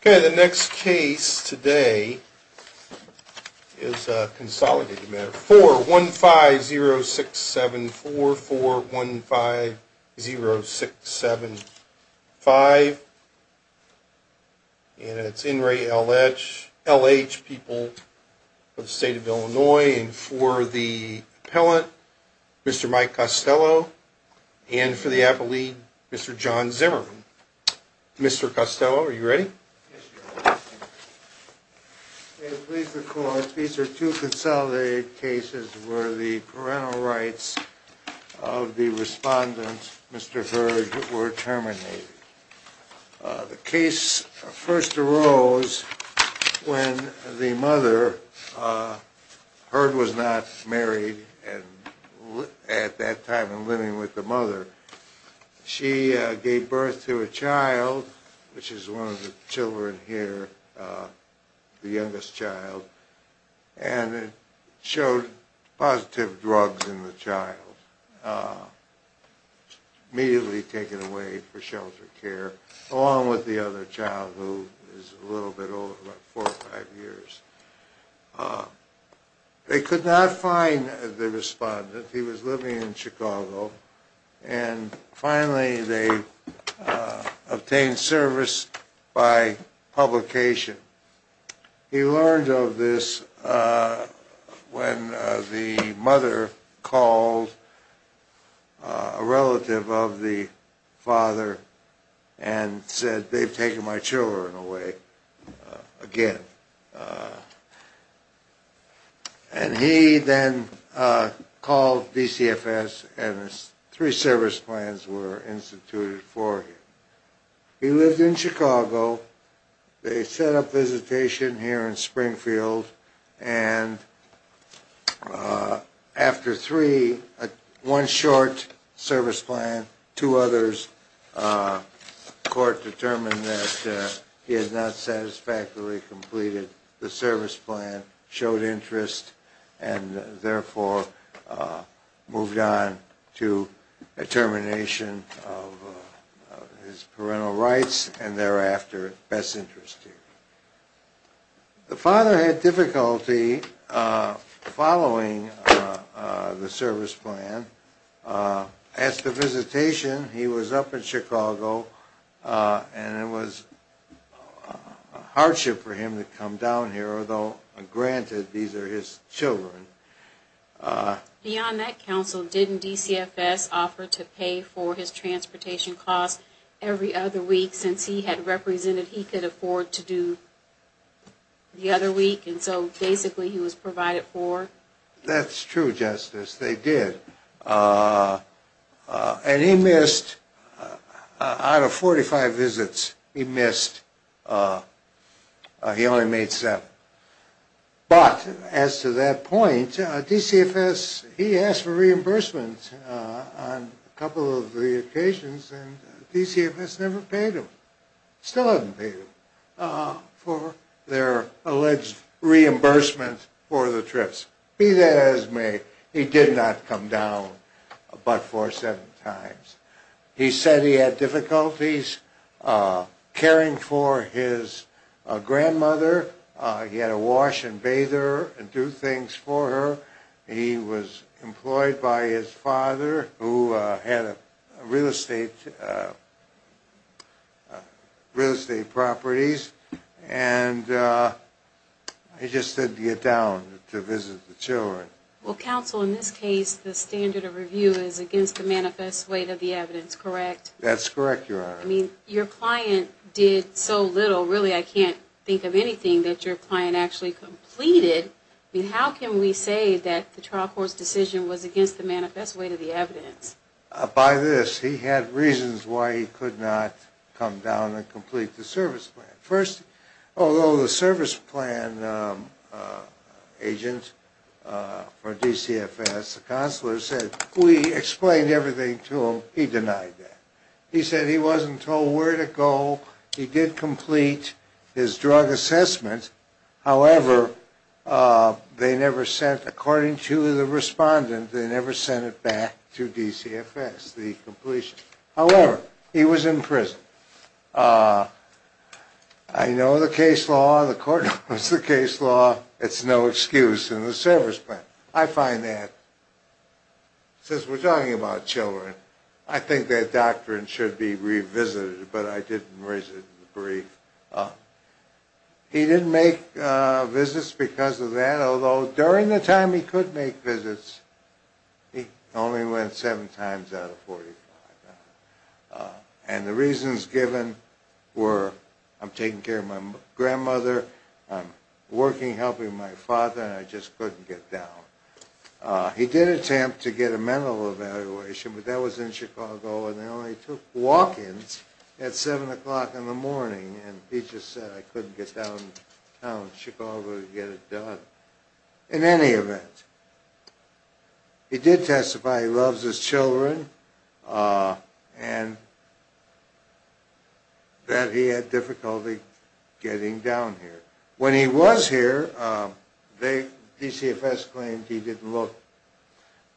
Okay, the next case today is a consolidated matter for one five zero six seven four four one five zero six seven five. And it's in Ray L.H. L.H. people of the state of Illinois and for the pellet. Mr. Mike Costello. And for the apple, we Mr. John Zimmerman. Mr. Costello, are you ready? Please record these are two consolidated cases where the parental rights of the respondent, Mr. mother. She gave birth to a child, which is one of the children here, the youngest child, and it showed positive drugs in the child. Immediately taken away for shelter care, along with the other child who is a little bit old, about four or five years. They could not find the respondent. He was living in Chicago. And finally, they obtained service by publication. He learned of this when the mother called a relative of the father and said, they've taken my children away again. And he then called DCFS and three service plans were instituted for him. He lived in Chicago. They set up visitation here in Springfield and after three, one short service plan, two the service plan showed interest and therefore moved on to a termination of his parental rights and thereafter, best interest here. The father had difficulty following the service plan. As to visitation, he was up in Chicago and it was a hardship for him to come down here, although granted, these are his children. Beyond that counsel, didn't DCFS offer to pay for his transportation costs every other week since he had represented he could afford to do the other week and so basically he was provided for? That's true, Justice. They did. And he missed, out of 45 visits, he missed, he only made seven. But as to that point, DCFS, he asked for reimbursement on a couple of the occasions and DCFS never paid him. Still haven't paid him for their alleged reimbursement for the trips. Be that as it may, he did not come down but for seven times. He said he had difficulties caring for his grandmother. He had to wash and bathe her and do things for her. He was employed by his father who had real estate properties and he just didn't get down to visit the children. Well, counsel, in this case the standard of review is against the manifest weight of the evidence, correct? That's correct, Your Honor. I mean, your client did so little, really I can't think of anything that your client actually completed. I mean, how can we say that the trial court's decision was against the manifest weight of the evidence? By this, he had reasons why he could not come down and complete the service plan. First, although the service plan agent for DCFS, the counselor said we explained everything to him, he denied that. He said he wasn't told where to go. He did complete his drug assessment. However, they never sent, according to the respondent, they never sent it back to DCFS, the completion. However, he was in prison. I know the case law, the court knows the case law, it's no excuse in the service plan. I find that, since we're talking about children, I think that doctrine should be revisited, but I didn't raise it in the brief. He didn't make visits because of that, although during the time he could make visits, he only went seven times out of 45. And the reasons given were, I'm taking care of my grandmother, I'm working, helping my father, and I just couldn't get down. He did attempt to get a mental evaluation, but that was in Chicago, and they only took walk-ins at 7 o'clock in the morning, and he just said I couldn't get downtown Chicago to get it done. In any event, he did testify he loves his children, and that he had difficulty getting down here. When he was here, DCFS claimed he didn't look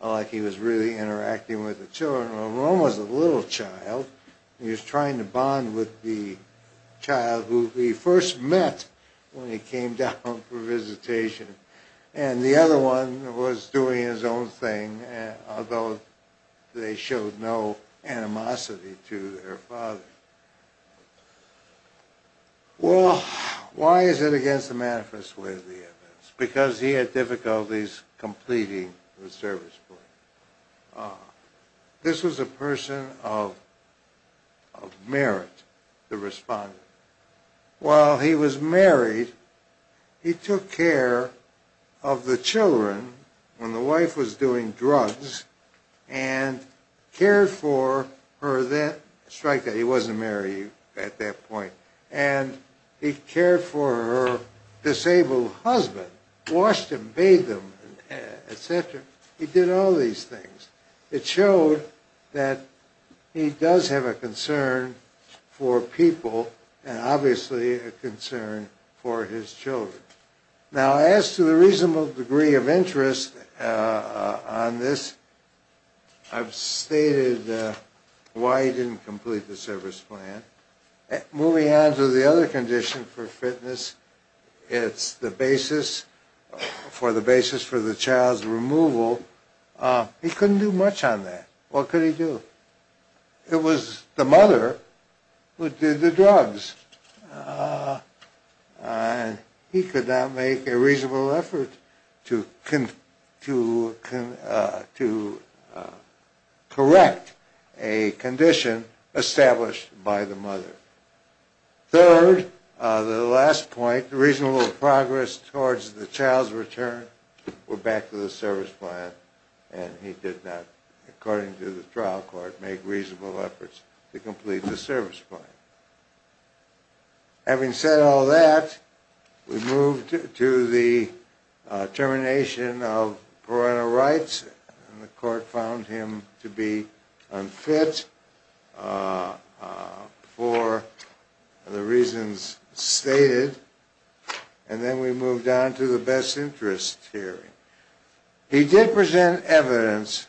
like he was really interacting with the children. Well, Rome was a little child, and he was trying to bond with the child who he first met when he came down for visitation, and the other one was doing his own thing, although they showed no animosity to their father. Well, why is it against the manifest way of the evidence? Because he had difficulties completing the service plan. This was a person of merit, the respondent. While he was married, he took care of the children when the wife was doing drugs, and cared for her that, strike that, he wasn't married at that point, and he cared for her disabled husband, washed him, bathed him, etc. He did all these things. It showed that he does have a concern for people, and obviously a concern for his children. Now, as to the reasonable degree of interest on this, I've stated why he didn't complete the service plan. Moving on to the other condition for fitness, it's the basis for the child's removal. He couldn't do much on that. What could he do? It was the mother who did the drugs, and he could not make a reasonable effort to correct a condition established by the mother. Third, the last point, the reasonable progress towards the child's return, went back to the service plan, and he did not, according to the trial court, make reasonable efforts to complete the service plan. Having said all that, we move to the termination of parental rights, and the court found him to be unfit for the reasons stated, and then we move down to the best interest hearing. He did present evidence,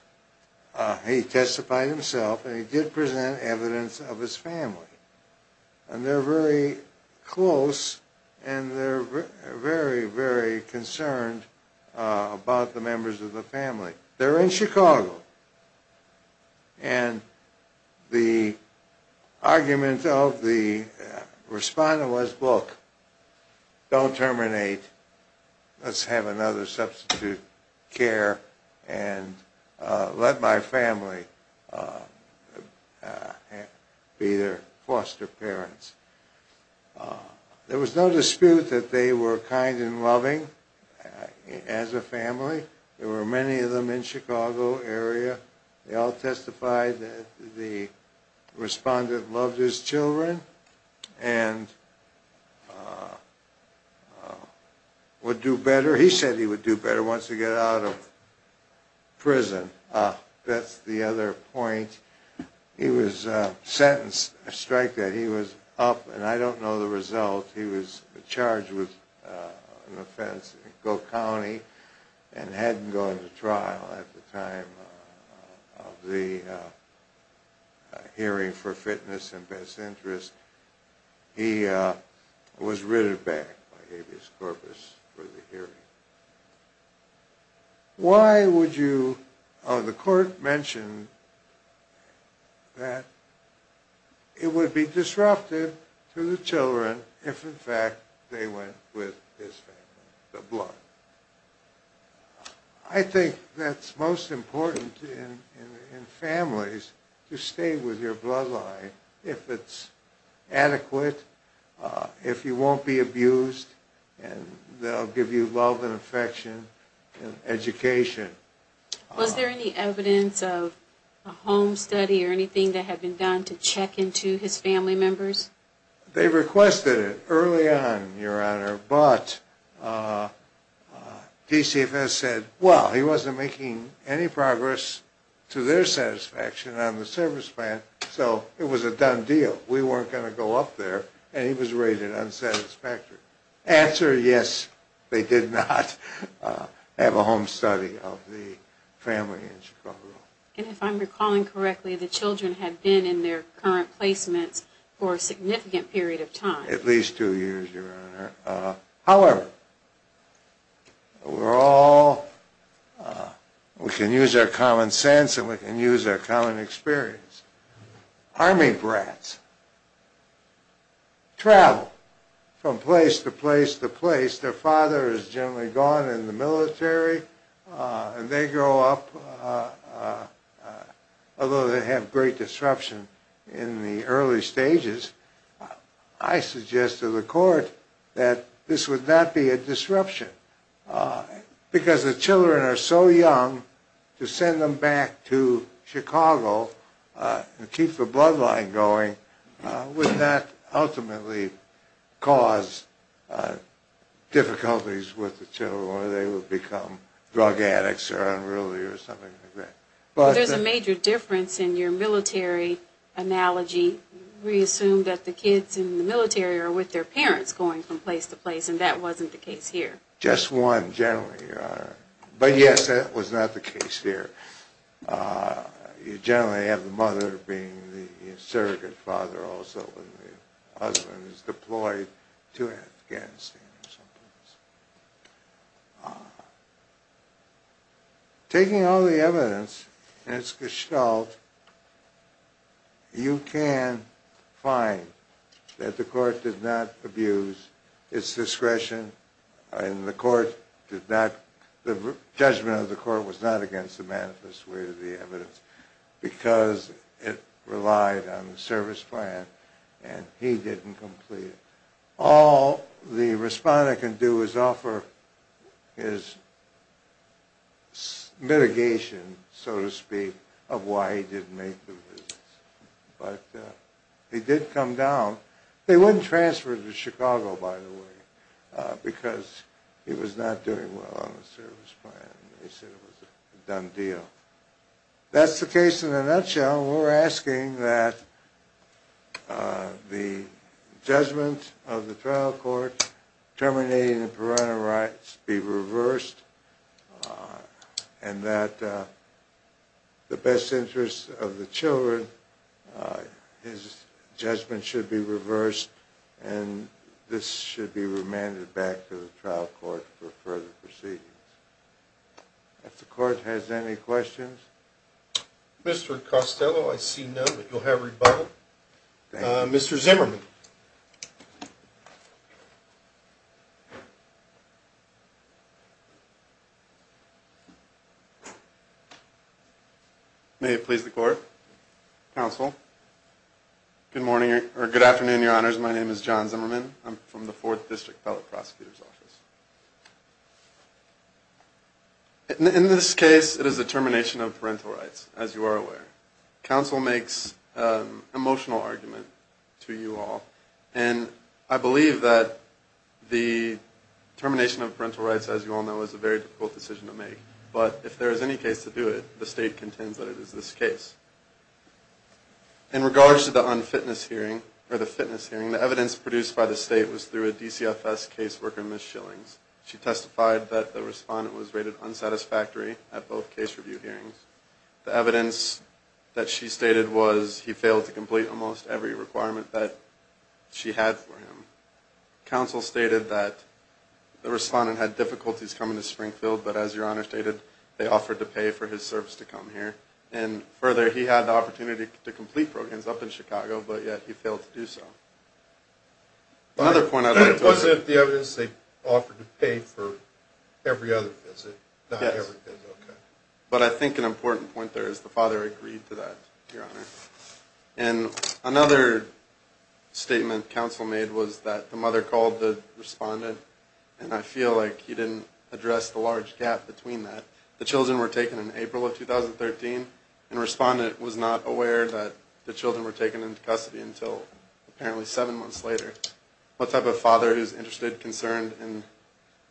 he testified himself, and he did present evidence of his family, and they're very close, and they're very, very concerned about the members of the family. They're in Chicago, and the argument of the respondent was, look, don't terminate, let's have another substitute care, and let my family be their foster parents. There was no dispute that they were kind and loving as a family. There were many of them in the Chicago area. They all testified that the respondent loved his children and would do better. He said he would do better once he got out of prison. That's the other point. He was sentenced, a strike that he was up, and I don't know the result. He was charged with an offense in Goat County and hadn't gone to trial at the time of the hearing for fitness and best interest. He was written back by habeas corpus for the hearing. Why would you, the court mentioned that it would be disruptive to the children if, in fact, they went with his family, the blood. I think that's most important in families to stay with your bloodline if it's adequate, if you won't be abused, and they'll give you love and affection and education. Was there any evidence of a home study or anything that had been done to check into his family members? They requested it early on, Your Honor, but PCFS said, well, he wasn't making any progress to their satisfaction on the service plan, so it was a done deal. We weren't going to go up there, and he was rated unsatisfactory. Answer, yes, they did not have a home study of the family in Chicago. And if I'm recalling correctly, the children had been in their current placements for a significant period of time. At least two years, Your Honor. However, we're all, we can use our common sense and we can use our common experience. Army brats travel from place to place to place. Their father is generally gone in the military, and they grow up. Although they have great disruption in the early stages, I suggested to the court that this would not be a disruption because the children are so young. To send them back to Chicago and keep the bloodline going would not ultimately cause difficulties with the children or they would become drug addicts or unruly or something like that. There's a major difference in your military analogy. We assume that the kids in the military are with their parents going from place to place, and that wasn't the case here. Just one, generally, Your Honor. But yes, that was not the case here. You generally have the mother being the surrogate father also when the husband is deployed to Afghanistan. Taking all the evidence in its gestalt, you can find that the court did not abuse its discretion, and the judgment of the court was not against the manifest way of the evidence because it relied on the service plan, and he didn't complete it. All the respondent can do is offer his mitigation, so to speak, of why he didn't make the visits. But he did come down. They wouldn't transfer him to Chicago, by the way, because he was not doing well on the service plan. They said it was a done deal. That's the case in a nutshell. Your Honor, we're asking that the judgment of the trial court terminating the parental rights be reversed and that the best interest of the children, his judgment should be reversed, and this should be remanded back to the trial court for further proceedings. If the court has any questions. Mr. Costello, I see none, but you'll have rebuttal. Mr. Zimmerman. May it please the court. Counsel. Good morning or good afternoon, Your Honors. My name is John Zimmerman. I'm from the Fourth District Fellow Prosecutor's Office. In this case, it is the termination of parental rights, as you are aware. Counsel makes an emotional argument to you all, and I believe that the termination of parental rights, as you all know, is a very difficult decision to make. But if there is any case to do it, the State contends that it is this case. In regards to the unfitness hearing, or the fitness hearing, the evidence produced by the State was through a DCFS caseworker, Ms. Shillings. She testified that the respondent was rated unsatisfactory at both case review hearings. The evidence that she stated was he failed to complete almost every requirement that she had for him. Counsel stated that the respondent had difficulties coming to Springfield, but as Your Honor stated, they offered to pay for his service to come here. And further, he had the opportunity to complete programs up in Chicago, but yet he failed to do so. Another point I'd like to... It wasn't the evidence they offered to pay for every other visit. Yes. Not every visit, okay. But I think an important point there is the father agreed to that, Your Honor. And another statement Counsel made was that the mother called the respondent, and I feel like he didn't address the large gap between that. The children were taken in April of 2013, and the respondent was not aware that the children were taken into custody until apparently seven months later. What type of father is interested, concerned, and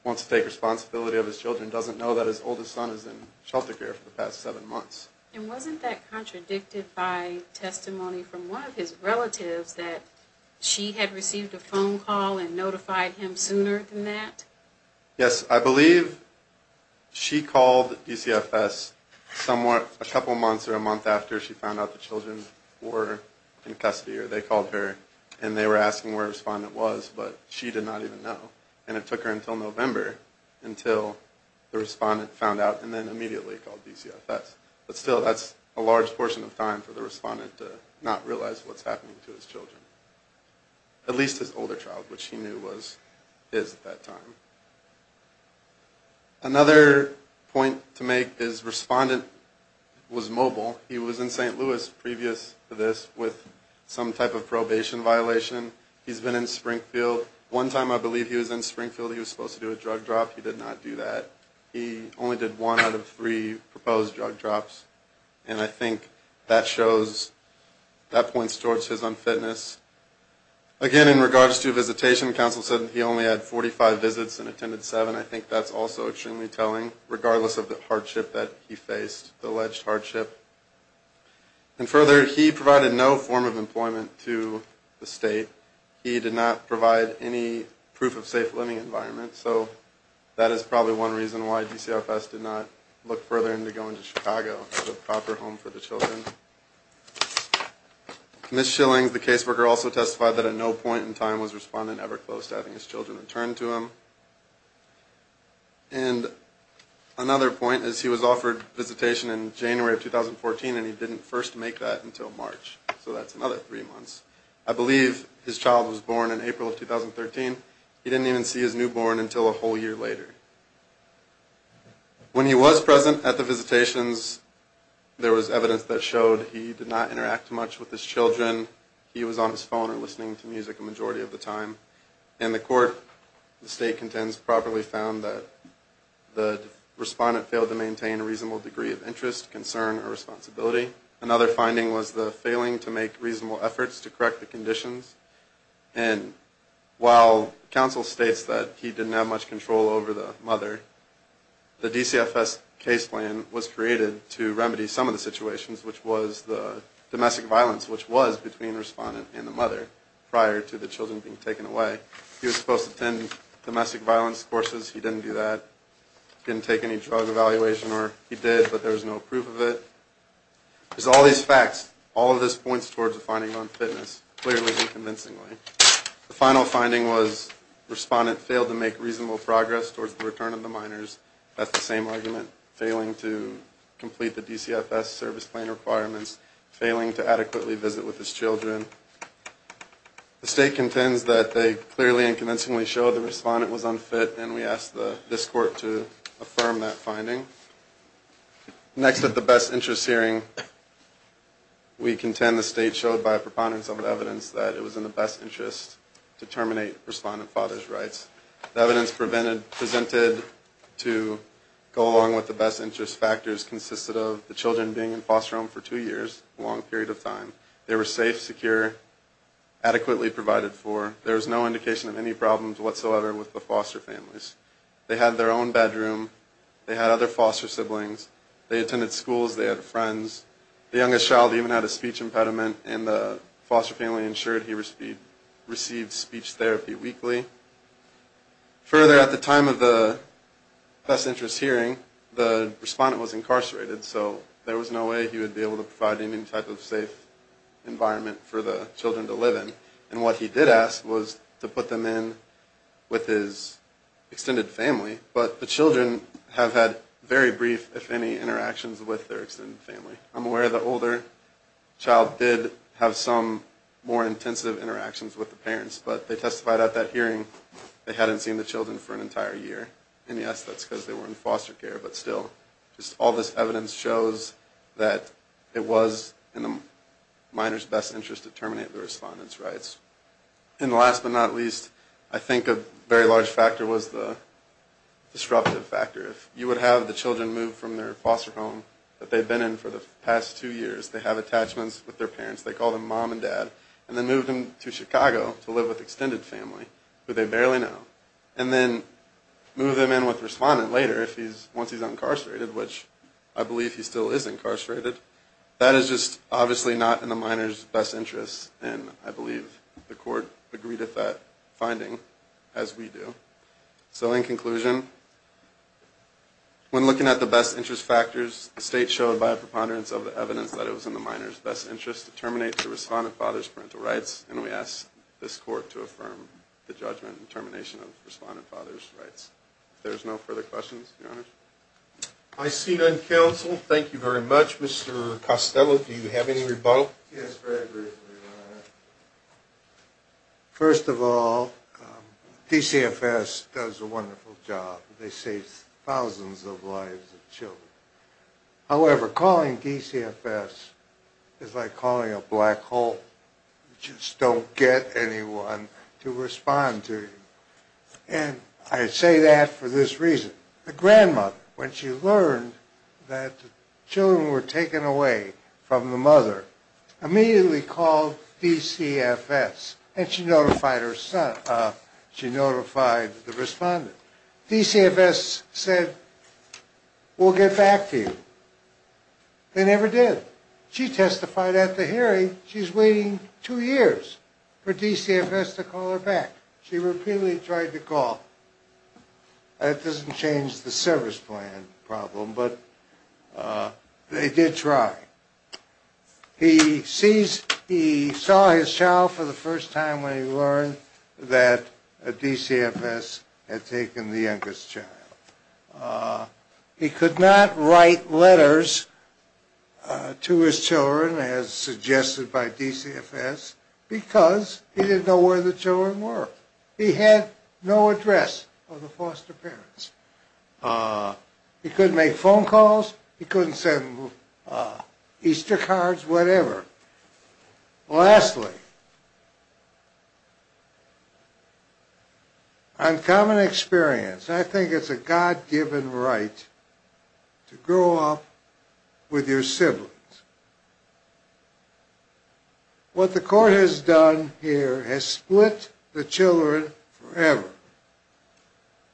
wants to take responsibility of his children doesn't know that his oldest son is in shelter care for the past seven months. And wasn't that contradicted by testimony from one of his relatives, that she had received a phone call and notified him sooner than that? Yes. I believe she called DCFS a couple months or a month after she found out the children were in custody, or they called her and they were asking where the respondent was, but she did not even know. And it took her until November until the respondent found out and then immediately called DCFS. But still, that's a large portion of time for the respondent to not realize what's happening to his children. At least his older child, which he knew was his at that time. Another point to make is respondent was mobile. He was in St. Louis previous to this with some type of probation violation. He's been in Springfield. One time I believe he was in Springfield, he was supposed to do a drug drop. He did not do that. He only did one out of three proposed drug drops, and I think that shows, that points towards his unfitness. Again, in regards to visitation, counsel said he only had 45 visits and attended seven. I think that's also extremely telling, regardless of the hardship that he faced, the alleged hardship. And further, he provided no form of employment to the state. He did not provide any proof of safe living environment, so that is probably one reason why DCFS did not look further into going to Chicago, the proper home for the children. Ms. Shillings, the caseworker, also testified that at no point in time was respondent ever close to having his children returned to him. And another point is he was offered visitation in January of 2014, and he didn't first make that until March. So that's another three months. I believe his child was born in April of 2013. He didn't even see his newborn until a whole year later. When he was present at the visitations, there was evidence that showed he did not interact much with his children. He was on his phone or listening to music a majority of the time. And the court, the state contends, properly found that the respondent failed to maintain a reasonable degree of interest, concern, or responsibility. Another finding was the failing to make reasonable efforts to correct the conditions. And while counsel states that he didn't have much control over the mother, the DCFS case plan was created to remedy some of the situations, which was the domestic violence, which was between the respondent and the mother prior to the children being taken away. He was supposed to attend domestic violence courses. He didn't do that. He didn't take any drug evaluation, or he did, but there was no proof of it. There's all these facts. All of this points towards a finding of unfitness, clearly and convincingly. The final finding was the respondent failed to make reasonable progress towards the return of the minors. That's the same argument. Failing to complete the DCFS service plan requirements. Failing to adequately visit with his children. The state contends that they clearly and convincingly show the respondent was unfit, and we ask this court to affirm that finding. Next at the best interest hearing, we contend the state showed by a preponderance of evidence that it was in the best interest to terminate respondent father's rights. The evidence presented to go along with the best interest factors consisted of the children being in foster home for two years, a long period of time. They were safe, secure, adequately provided for. There was no indication of any problems whatsoever with the foster families. They had their own bedroom. They had other foster siblings. They attended schools. They had friends. The youngest child even had a speech impediment, and the foster family ensured he received speech therapy weekly. Further, at the time of the best interest hearing, the respondent was incarcerated, so there was no way he would be able to provide any type of safe environment for the children to live in. And what he did ask was to put them in with his extended family, but the children have had very brief, if any, interactions with their extended family. I'm aware the older child did have some more intensive interactions with the parents, but they testified at that hearing they hadn't seen the children for an entire year. And yes, that's because they were in foster care, but still. Just all this evidence shows that it was in the minor's best interest to terminate the respondent's rights. And last but not least, I think a very large factor was the disruptive factor. If you would have the children move from their foster home that they'd been in for the past two years, they have attachments with their parents, they call them mom and dad, and then move them to Chicago to live with extended family, who they barely know, and then move them in with the respondent later once he's incarcerated, which I believe he still is incarcerated. That is just obviously not in the minor's best interest, and I believe the court agreed with that finding, as we do. So in conclusion, when looking at the best interest factors, the state showed by a preponderance of the evidence that it was in the minor's best interest to terminate the respondent father's parental rights, and we ask this court to affirm the judgment and termination of the respondent father's rights. If there's no further questions, Your Honor. I see none. Counsel, thank you very much. Mr. Costello, do you have any rebuttal? Yes, very briefly, Your Honor. First of all, DCFS does a wonderful job. They save thousands of lives of children. However, calling DCFS is like calling a black hole. You just don't get anyone to respond to you, and I say that for this reason. The grandmother, when she learned that the children were taken away from the mother, immediately called DCFS, and she notified the respondent. DCFS said, we'll get back to you. They never did. She testified after hearing she's waiting two years for DCFS to call her back. She repeatedly tried to call. That doesn't change the service plan problem, but they did try. He saw his child for the first time when he learned that DCFS had taken the youngest child. He could not write letters to his children, as suggested by DCFS, because he didn't know where the children were. He had no address of the foster parents. He couldn't make phone calls. He couldn't send Easter cards, whatever. Lastly, on common experience, I think it's a God-given right to grow up with your siblings. What the court has done here has split the children forever.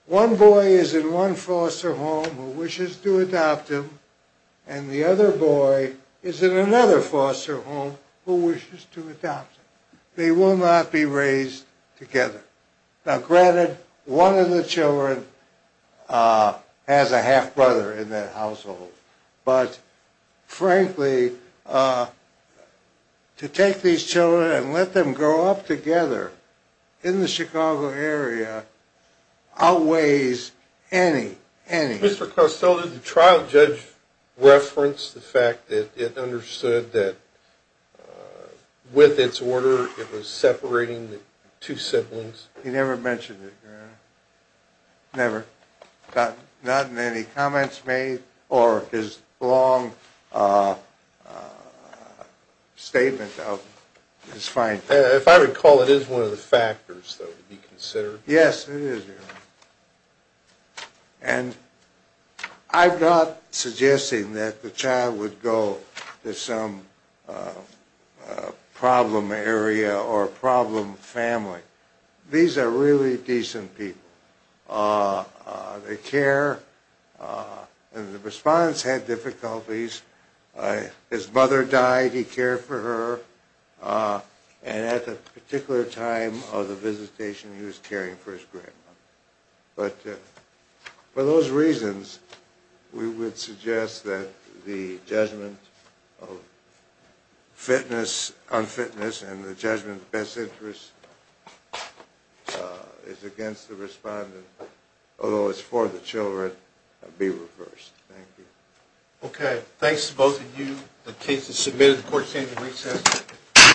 One boy is in one foster home who wishes to adopt him, and the other boy is in another foster home who wishes to adopt him. They will not be raised together. Now, granted, one of the children has a half-brother in that household, but frankly, to take these children and let them grow up together in the Chicago area outweighs any, any. Mr. Costello, did the trial judge reference the fact that it understood that with its order, it was separating the two siblings? Never. Not in any comments made or his long statement of his findings. If I recall, it is one of the factors that would be considered. Yes, it is. And I'm not suggesting that the child would go to some problem area or problem family. These are really decent people. They care, and the respondents had difficulties. His mother died, he cared for her, and at the particular time of the visitation, he was caring for his grandmother. But for those reasons, we would suggest that the judgment of fitness, unfitness, and the judgment of best interest is against the respondent, although it's for the children, be reversed. Thank you. Okay. Thanks to both of you. The case is submitted. The court is going to recess.